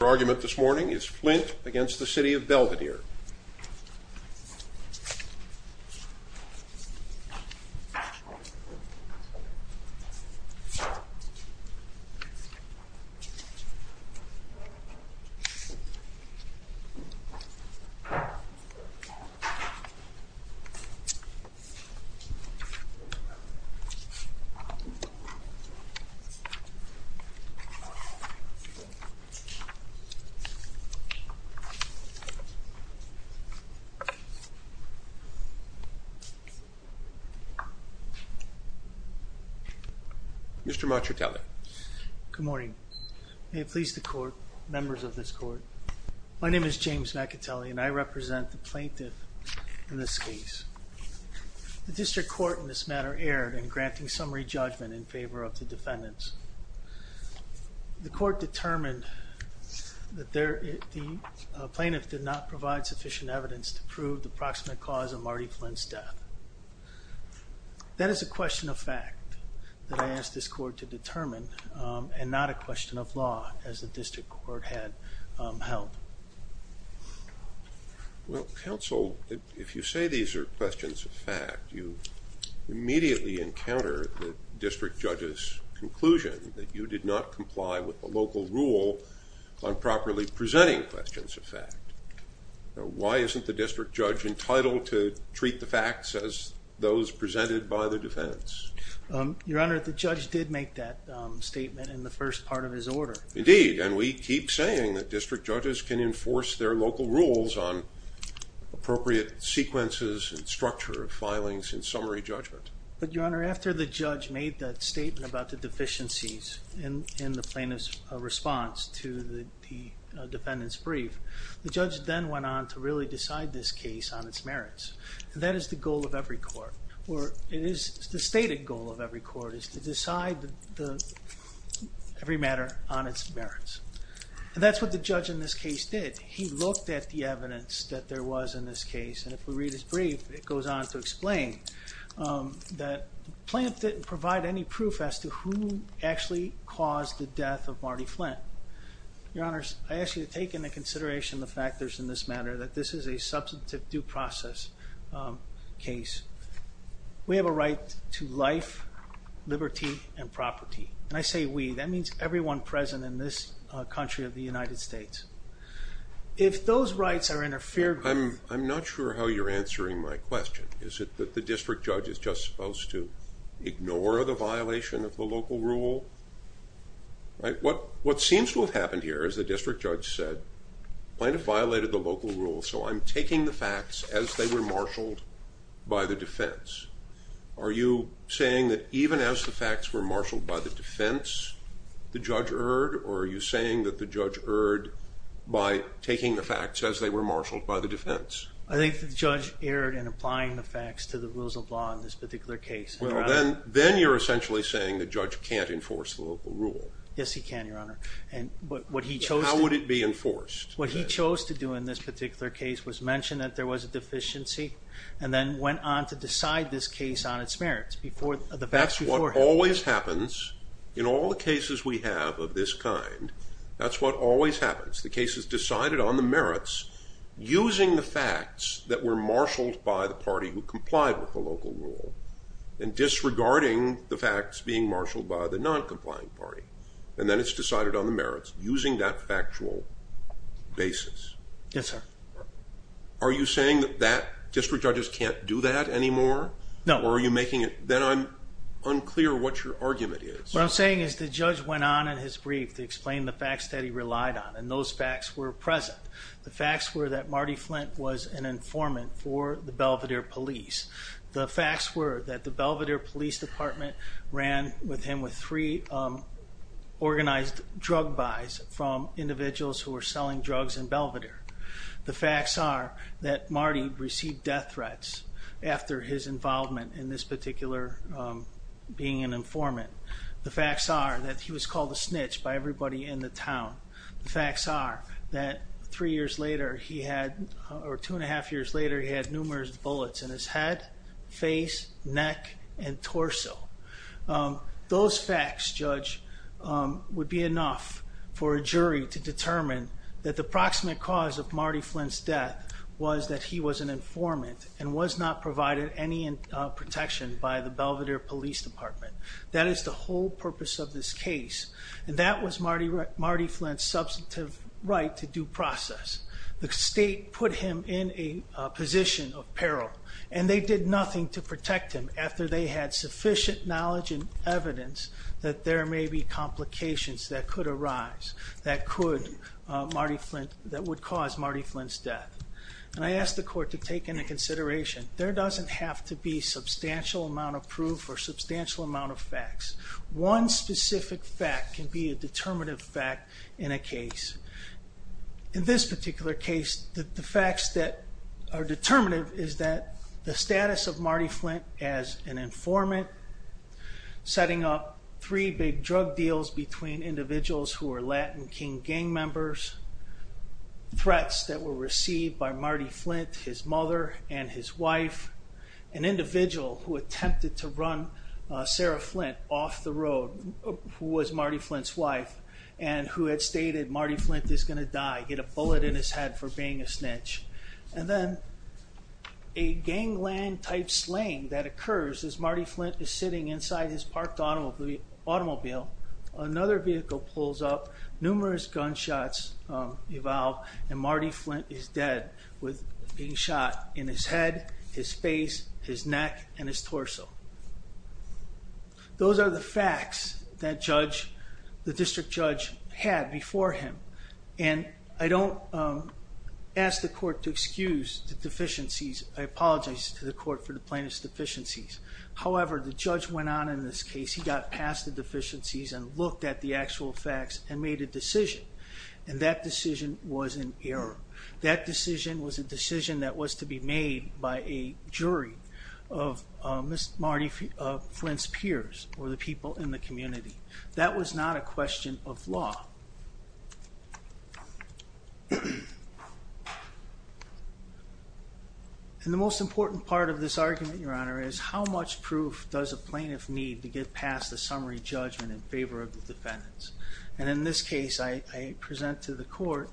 Your argument this morning is Flint against the City of Belvidere. Mr. Maccatelli. Good morning. May it please the court, members of this court, my name is James Maccatelli and I represent the plaintiff in this case. The district court in this matter erred in that the plaintiff did not provide sufficient evidence to prove the proximate cause of Marty Flint's death. That is a question of fact that I asked this court to determine and not a question of law as the district court had held. Well counsel, if you say these are questions of fact, you immediately encounter the district judge's conclusion that you did not comply with the local rule on properly presenting questions of fact. Why isn't the district judge entitled to treat the facts as those presented by the defense? Your Honor, the judge did make that statement in the first part of his order. Indeed, and we keep saying that district judges can enforce their local rules on appropriate sequences and structure of filings and summary judgment. But Your Honor, after the judge made that statement about the deficiencies in the plaintiff's response to the defendant's brief, the judge then went on to really decide this case on its merits. That is the goal of every court or it is the stated goal of every court is to decide every matter on its merits. And that's what the judge in this case did. He looked at the evidence that there was in this case. The plaintiff didn't provide any proof as to who actually caused the death of Marty Flint. Your Honor, I ask you to take into consideration the factors in this matter that this is a substantive due process case. We have a right to life, liberty, and property. And I say we, that means everyone present in this country of the United States. If those rights are interfered with... I'm not sure how you're answering my question. Is it that the district judge is just supposed to ignore the violation of the local rule? What seems to have happened here, as the district judge said, the plaintiff violated the local rule, so I'm taking the facts as they were marshaled by the defense. Are you saying that even as the facts were marshaled by the defense, the judge erred? Or are you saying that the judge erred by taking the facts as they were marshaled by the defense? I think the judge erred in applying the facts to the rules of law in this particular case. Well, then you're essentially saying the judge can't enforce the local rule. Yes, he can, Your Honor. And what he chose... How would it be enforced? What he chose to do in this particular case was mention that there was a deficiency, and then went on to decide this case on its merits. That's what always happens in all the cases we have of this kind. That's what always happens. The case is decided on the merits, using the facts that were marshaled by the party who complied with the local rule, and disregarding the facts being marshaled by the non-complying party. And then it's decided on the merits, using that factual basis. Yes, sir. Are you saying that district judges can't do that anymore? No. Or are you making it... Then I'm The judge went on in his brief to explain the facts that he relied on, and those facts were present. The facts were that Marty Flint was an informant for the Belvedere Police. The facts were that the Belvedere Police Department ran with him with three organized drug buys from individuals who were selling drugs in Belvedere. The facts are that Marty received death threats after his involvement in this particular being an informant. The facts are that he was called a snitch by everybody in the town. The facts are that three years later he had, or two and a half years later, he had numerous bullets in his head, face, neck, and torso. Those facts, Judge, would be enough for a jury to determine that the proximate cause of the death of Marty Flint is the Belvedere Police Department. That is the whole purpose of this case. And that was Marty Flint's substantive right to due process. The state put him in a position of peril, and they did nothing to protect him after they had sufficient knowledge and evidence that there may be complications that could arise that could, Marty Flint, that would cause Marty Flint's death. And I asked the court to take into consideration, there doesn't have to be substantial amount of proof or substantial amount of facts. One specific fact can be a determinative fact in a case. In this particular case, the facts that are determinative is that the status of Marty Flint as an informant, setting up three big drug deals between individuals who were Latin King gang members, threats that were received by Marty Flint, his mother, and his wife, an individual who attempted to run Sarah Flint off the road, who was Marty Flint's wife, and who had stated, Marty Flint is going to die, get a bullet in his head for being a snitch. And then a gangland type slaying that occurs as Marty Flint is sitting inside his parked automobile, another vehicle pulls up, numerous gunshots evolve, and Marty Flint is dead with being shot in his head, his face, his neck, and his torso. Those are the facts that the district judge had before him. And I don't ask the court to excuse the deficiencies. I apologize to the court for the plaintiff's deficiencies. However, the judge went on in this case, he got past the actual facts, and made a decision. And that decision was an error. That decision was a decision that was to be made by a jury of Marty Flint's peers, or the people in the community. That was not a question of law. And the most important part of this And in this case, I present to the court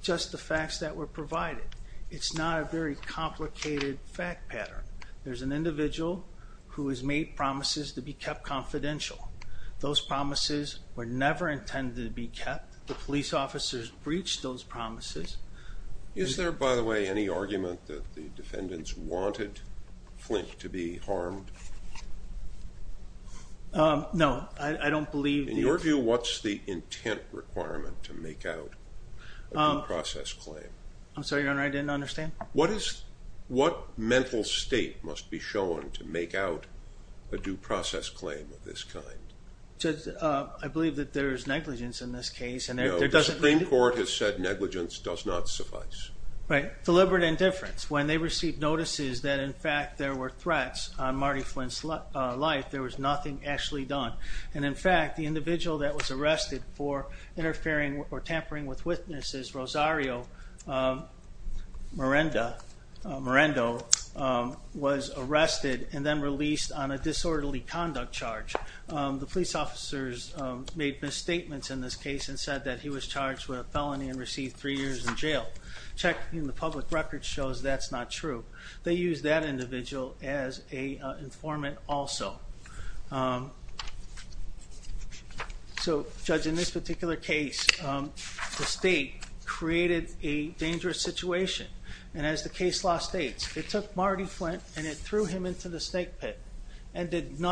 just the facts that were provided. It's not a very complicated fact pattern. There's an individual who has made promises to be kept confidential. Those promises were never intended to be kept. The police officers breached those promises. Is there, by the way, any argument that the defendants wanted Flint to be harmed? No, I don't believe. In your view, what's the intent requirement to make out a due process claim? I'm sorry, Your Honor, I didn't understand. What mental state must be shown to negligence does not suffice. Right. Deliberate indifference. When they received notices that in fact there were threats on Marty Flint's life, there was nothing actually done. And in fact, the individual that was arrested for interfering or tampering with witnesses, Rosario Marendo, was arrested and then released on a disorderly conduct charge. The police officers made misstatements in this case and said that he was charged with a felony and received three years in jail. Checking the public record shows that's not true. They used that individual as an informant also. So, Judge, in this particular case, the state created a dangerous situation. And as the case law states, it took Marty Flint and it threw him into the snake pit and did And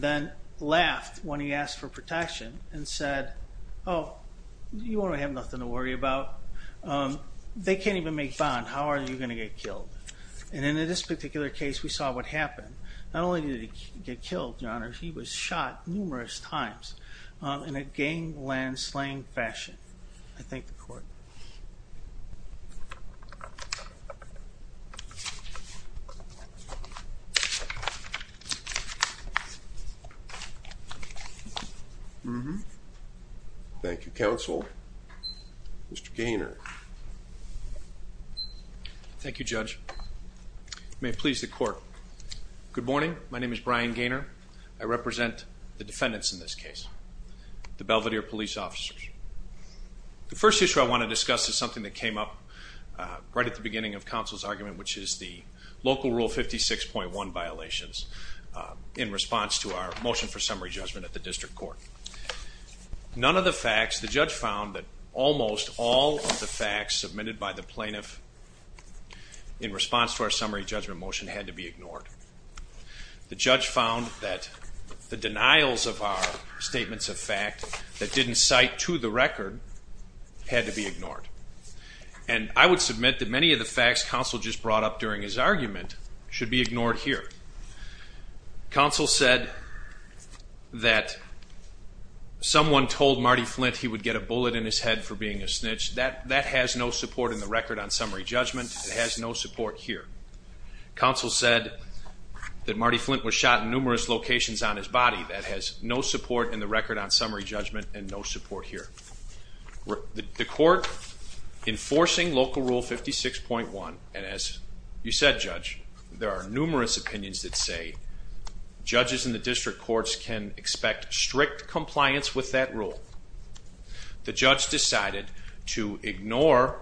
then laughed when he asked for protection and said, oh, you want to have nothing to worry about. They can't even make bond. How are you going to get killed? And in this particular case, we saw what happened. Not only did he get killed, Your Honor, he was shot numerous times in a gangland slang fashion. I thank the court. Thank you, counsel. Mr. Gaynor. Thank you, Judge. May it please the court. Good morning. My name is Brian Gaynor. I represent the defendants in this case, the Belvedere police officers. The first issue I want to discuss is something that came up right at the beginning of counsel's argument, which is the local rule 56.1 violations in response to our motion for summary judgment at the district court. None of the facts, the judge found that almost all of the facts submitted by the plaintiff in response to our summary judgment motion had to be ignored. The judge found that the denials of our statements of fact that didn't cite to the record had to be ignored. Counsel said that someone told Marty Flint he would get a bullet in his head for being a snitch. That has no support in the record on summary judgment. It has no support here. Counsel said that Marty Flint was shot in numerous locations on his body. That has no support in the record on summary judgment and no support here. The court enforcing local rule 56.1, and as you said, Judge, there are numerous opinions that say judges in the district courts can expect strict compliance with that rule. The judge decided to ignore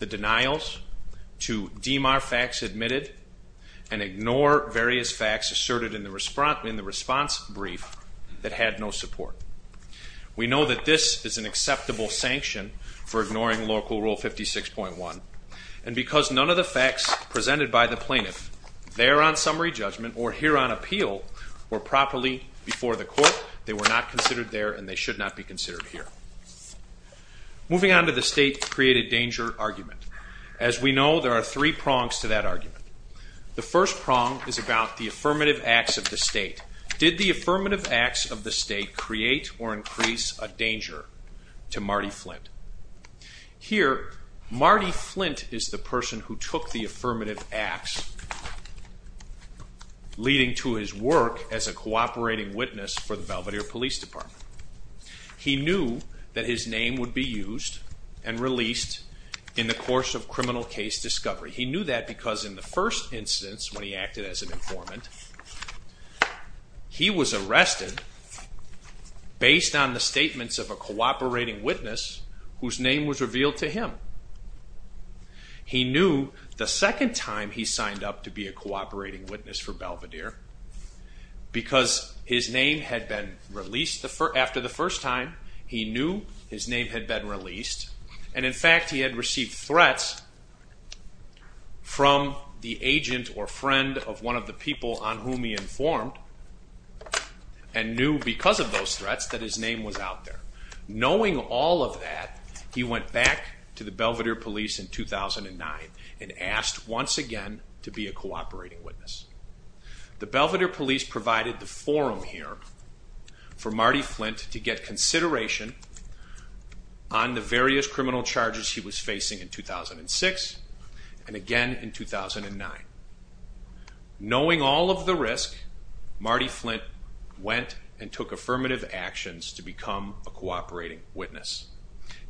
the denials, to deem our facts admitted, and ignore various facts asserted in the response brief that had no support. We know that this is an acceptable sanction for ignoring local rule 56.1, and because none of the facts presented by the plaintiff there on summary judgment or here on appeal were properly before the court, they were not considered there and they should not be considered here. Moving on to the state created danger argument. As we know, there are three prongs to that argument. The first prong is about the affirmative acts of the state. Did the affirmative acts of the state create or increase a danger to Marty Flint? Here, Marty Flint is the person who took the affirmative acts, leading to his work as a cooperating witness for the Belvedere Police Department. He knew that his name would be used and released in the course of criminal case discovery. He knew that because in the first instance, when he acted as an informant, he was arrested based on the statements of a cooperating witness whose name was revealed to him. He knew the second time he signed up to be a cooperating witness for Belvedere, because his name had been released after the first time, he knew his name had been released, and in fact he had received threats from the agent or friend of one of the people on whom he informed, and knew because of those threats that his name was out there. Knowing all of that, he went back to the Belvedere Police in 2009 and asked once again to be a cooperating witness. The Belvedere Police provided the forum here for Marty Flint to get consideration on the various criminal charges he was facing in 2006 and again in 2009. Knowing all of the risk, Marty Flint went and took affirmative actions to become a cooperating witness.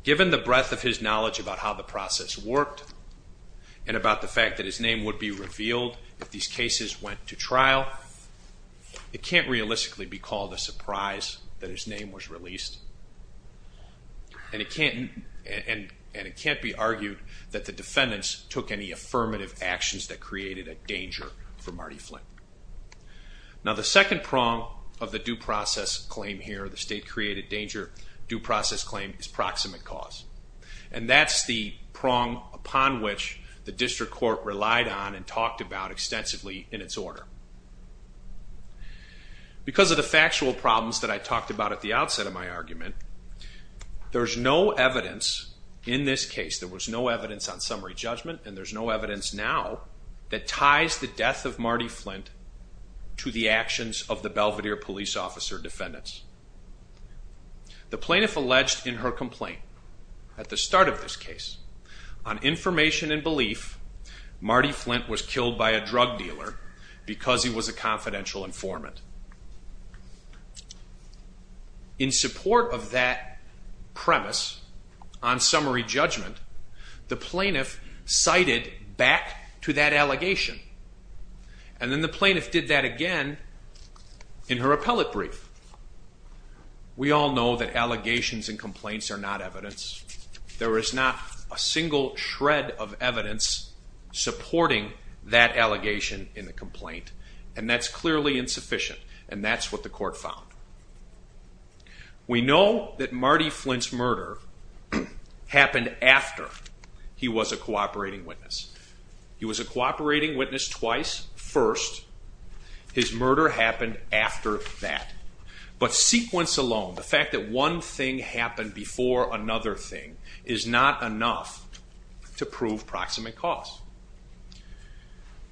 Given the breadth of his knowledge about how the process worked, and about the fact that his name would be revealed if these cases went to trial, it can't realistically be called a surprise that his name was released. And it can't be argued that the defendants took any affirmative actions that created a danger for Marty Flint. Now the second prong of the due process claim here, the state-created danger due process claim, is proximate cause. And that's the prong upon which the district court relied on and talked about extensively in its order. Because of the factual problems that I talked about at the outset of my argument, there's no evidence in this case, there was no evidence on summary judgment, and there's no evidence now that ties the death of Marty Flint to the actions of the Belvedere Police officer defendants. The plaintiff alleged in her complaint at the start of this case, on information and belief, Marty Flint was killed by a drug dealer because he was a confidential informant. In support of that premise on summary judgment, the plaintiff cited back to that allegation. And then the plaintiff did that again in her appellate brief. We all know that allegations in complaints are not evidence. There is not a single shred of evidence supporting that allegation in the complaint. And that's clearly insufficient. And that's what the court found. We know that Marty Flint's murder happened after he was a cooperating witness. He was a cooperating witness twice. First, his murder happened after that. But sequence alone, the fact that one thing happened before another thing, is not enough to prove proximate cause.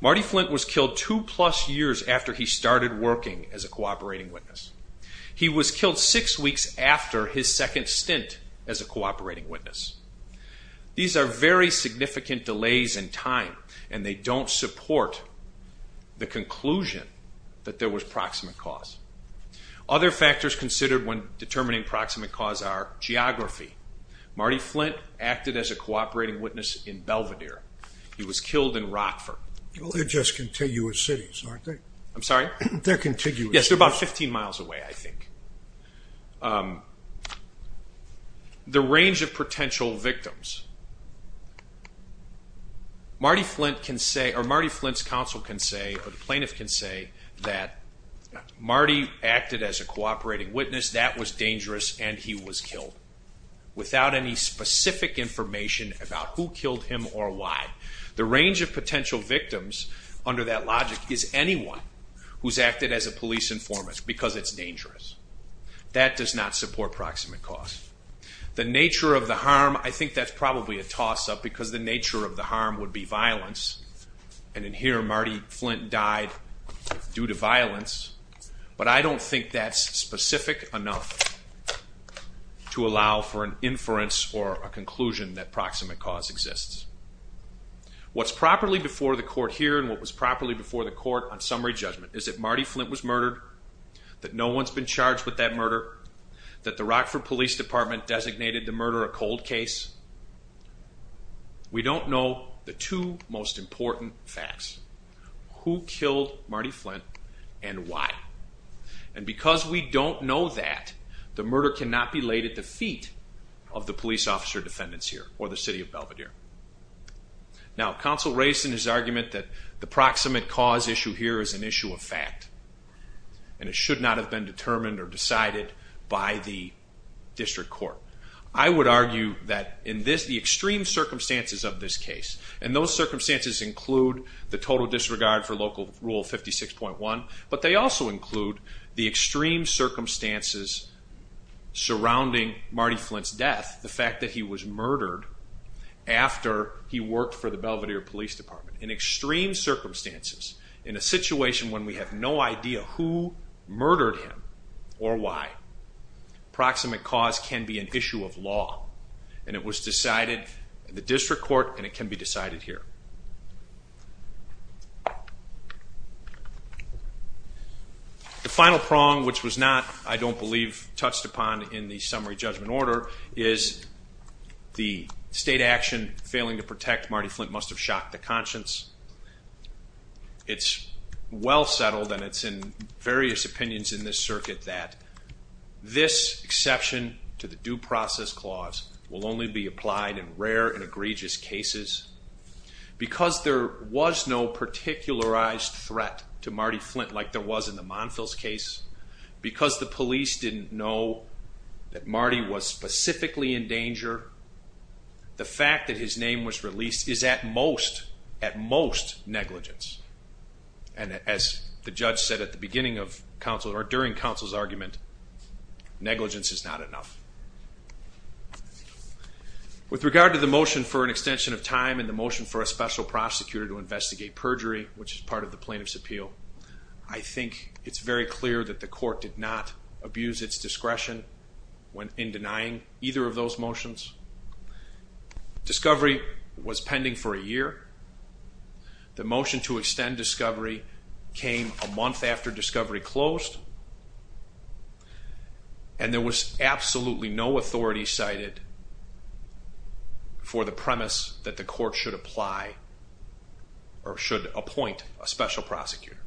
Marty Flint was killed two plus years after he started working as a cooperating witness. He was killed six weeks after his second stint as a cooperating witness. These are very significant delays in time, and they don't support the conclusion that there was proximate cause. Other factors considered when determining proximate cause are geography. Marty Flint acted as a cooperating witness in Belvidere. He was killed in Rockford. They're just contiguous cities, aren't they? I'm sorry? They're contiguous. Yes, they're about 15 miles away, I think. The range of potential victims. Marty Flint's counsel can say, or the plaintiff can say, that Marty acted as a cooperating witness, that was dangerous, and he was killed without any specific information about who killed him or why. The range of potential victims, under that logic, is anyone who's acted as a police informant, because it's dangerous. That does not support proximate cause. The nature of the harm, I think that's probably a toss-up, because the nature of the harm would be violence. And in here, Marty Flint died due to violence, but I don't think that's specific enough to allow for an inference or a conclusion that proximate cause exists. What's properly before the court here and what was properly before the court on summary judgment is that Marty Flint was murdered, that no one's been charged with that murder, that the Rockford Police Department designated the murder a cold case. We don't know the two most important facts, who killed Marty Flint and why. And because we don't know that, the murder cannot be laid at the feet of the police officer defendants here or the city of Belvedere. Now, counsel raised in his argument that the proximate cause issue here is an issue of fact, and it should not have been determined or decided by the district court. I would argue that in the extreme circumstances of this case, and those circumstances include the total disregard for Local Rule 56.1, but they also include the extreme circumstances surrounding Marty Flint's death, the fact that he was murdered after he worked for the Belvedere Police Department. In extreme circumstances, in a situation when we have no idea who murdered him or why, proximate cause can be an issue of law. And it was decided in the district court and it can be decided here. The final prong, which was not, I don't believe, touched upon in the summary judgment order, is the state action failing to protect Marty Flint must have shocked the conscience. It's well settled, and it's in various opinions in this circuit, that this exception to the Due Process Clause will only be applied in rare and egregious cases. Because there was no particularized threat to Marty Flint like there was in the Monfils case, because the police didn't know that Marty was specifically in danger, the fact that his name was released is at most, at most negligence. And as the judge said at the beginning of counsel, or during counsel's argument, negligence is not enough. With regard to the motion for an extension of time and the motion for a special prosecutor to investigate perjury, which is part of the plaintiff's appeal, I think it's very clear that the court did not abuse its discretion in denying either of those motions. Discovery was pending for a year. The motion to extend Discovery came a month after Discovery closed. And there was absolutely no authority cited for the premise that the court should apply, or should appoint, a special prosecutor.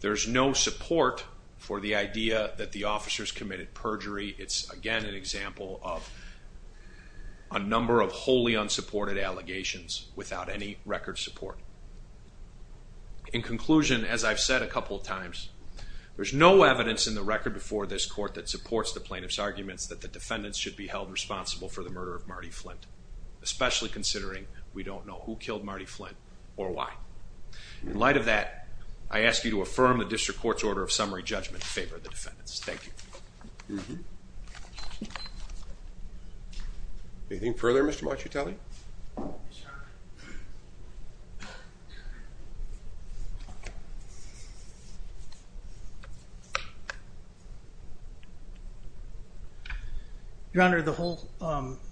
There's no support for the idea that the officers committed perjury. It's, again, an example of a number of wholly unsupported allegations without any record support. In conclusion, as I've said a couple of times, there's no evidence in the record before this court that supports the plaintiff's arguments that the defendants should be held responsible for the murder of Marty Flint, especially considering we don't know who killed Marty Flint or why. In light of that, I ask you to affirm the district court's order of summary judgment in favor of the defendants. Thank you. Anything further, Mr. Maciutelli? Your Honor, the whole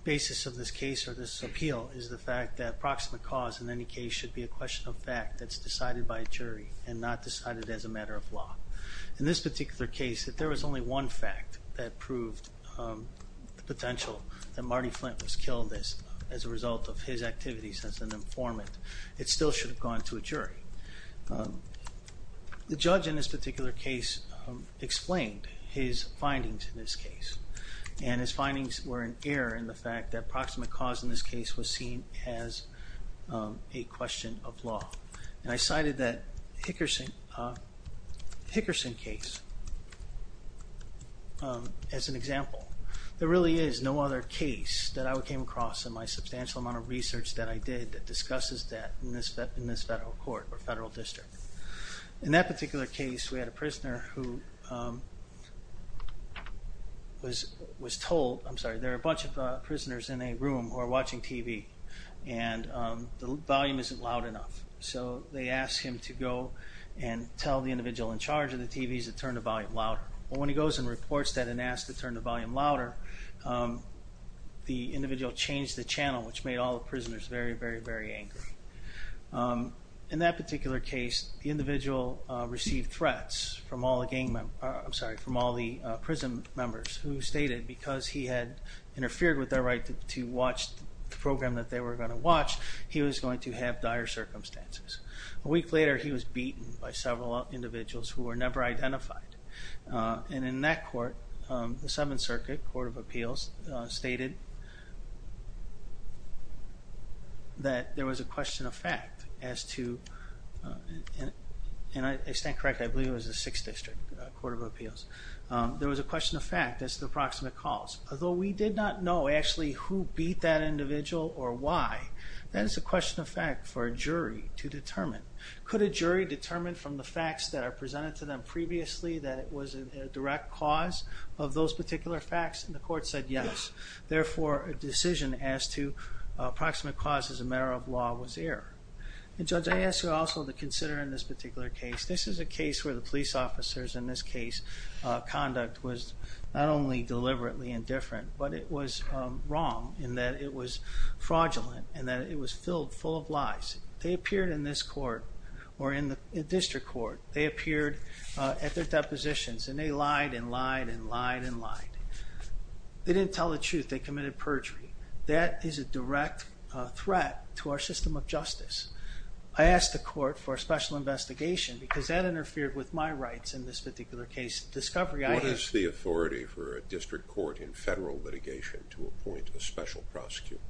basis of this case or this appeal is the fact that proximate cause, in any case, should be a question of fact that's decided by a jury and not decided as a matter of law. In this particular case, if there was only one fact that proved the potential that Marty Flint was killed as a result of his activities as an informant, it still should have gone to a jury. The judge in this particular case explained his findings in this case, and his findings were in error in the fact that proximate cause in this case was seen as a question of law. And I cited that Hickerson case as an example. There really is no other case that I came across in my substantial amount of research that I did that discusses that in this federal court or federal district. In that particular case, we had a prisoner who was told, I'm sorry, there are a bunch of prisoners in a room who are watching TV, and the volume isn't loud enough. So they asked him to go and tell the individual in charge of the TVs to turn the volume louder. When he goes and reports that and asks to turn the volume louder, the individual changed the channel, which made all the prisoners very, very, very angry. In that particular case, the individual received threats from all the gang members, I'm sorry, from all the prison members who stated because he had interfered with their right to watch the program that they were going to watch, he was going to have dire circumstances. A week later, he was beaten by several individuals who were never identified. And in that court, the Seventh Circuit Court of Appeals stated that there was a question of fact as to, and I stand corrected, I believe it was the Sixth District Court of Appeals, there was a question of fact as to the proximate cause. Although we did not know actually who beat that individual or why, that is a question of fact for a jury to determine. Could a jury determine from the facts that are presented to them previously that it was a direct cause of those particular facts? And the court said yes. Therefore, a decision as to proximate cause as a matter of law was error. And Judge, I ask you also to consider in this particular case, this is a case where the police officers in this case, conduct was not only deliberately indifferent, but it was wrong in that it was fraudulent and that it was filled full of lies. They appeared in this court or in the district court. They appeared at their depositions and they lied and lied and lied and lied. They didn't tell the truth. They committed perjury. That is a direct threat to our system of justice. I asked the court for a special investigation because that interfered with my rights in this particular case. What is the authority for a district court in federal litigation to appoint a special prosecutor?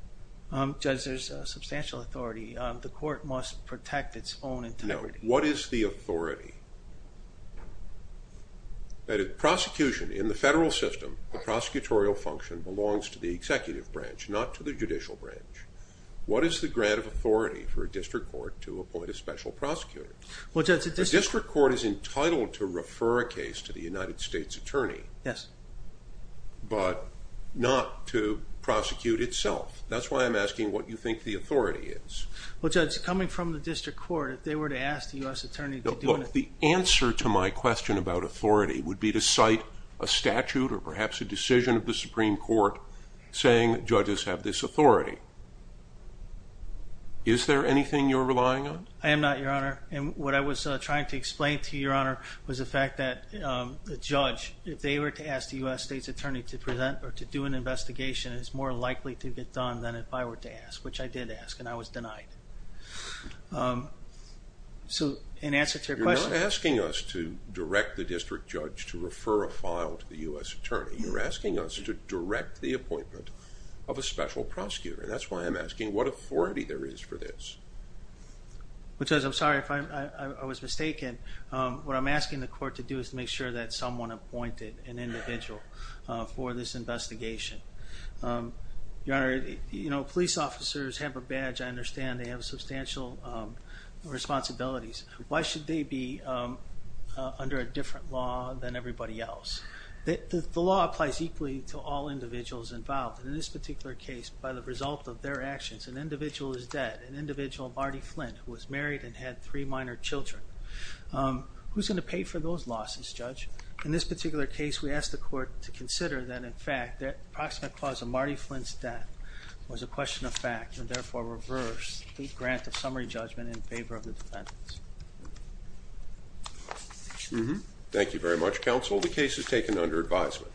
Judge, there's substantial authority. The court must protect its own integrity. What is the authority? Prosecution in the federal system, the prosecutorial function belongs to the executive branch, not to the judicial branch. What is the grant of authority for a district court to appoint a special prosecutor? Well, Judge, the district court is entitled to refer a case to the United States Attorney. Yes. But not to prosecute itself. That's why I'm asking what you think the authority is. Well, Judge, coming from the district court, if they were to ask the U.S. Attorney to do it. The answer to my question about authority would be to cite a statute or perhaps a decision of the Supreme Court saying judges have this authority. Is there anything you're relying on? I am not, Your Honor. And what I was trying to explain to you, Your Honor, was the fact that the judge, if they were to ask the U.S. Attorney to present or to do an investigation, it's more likely to get done than if I were to ask, which I did ask, and I was denied. So in answer to your question. You're not asking us to direct the district judge to refer a file to the U.S. Attorney. You're asking us to direct the appointment of a special prosecutor, and that's why I'm asking what authority there is for this. Well, Judge, I'm sorry if I was mistaken. What I'm asking the court to do is to make sure that someone appointed an individual for this investigation. Your Honor, you know, police officers have a badge. I understand they have substantial responsibilities. Why should they be under a different law than everybody else? The law applies equally to all individuals involved, and in this particular case, by the result of their actions, an individual is dead, an individual, Marty Flint, who was married and had three minor children. Who's going to pay for those losses, Judge? In this particular case, we asked the court to consider that, in fact, the approximate cause of Marty Flint's death was a question of fact, and therefore reverse the grant of summary judgment in favor of the defendants. Thank you very much, Counsel. The case is taken under advisement.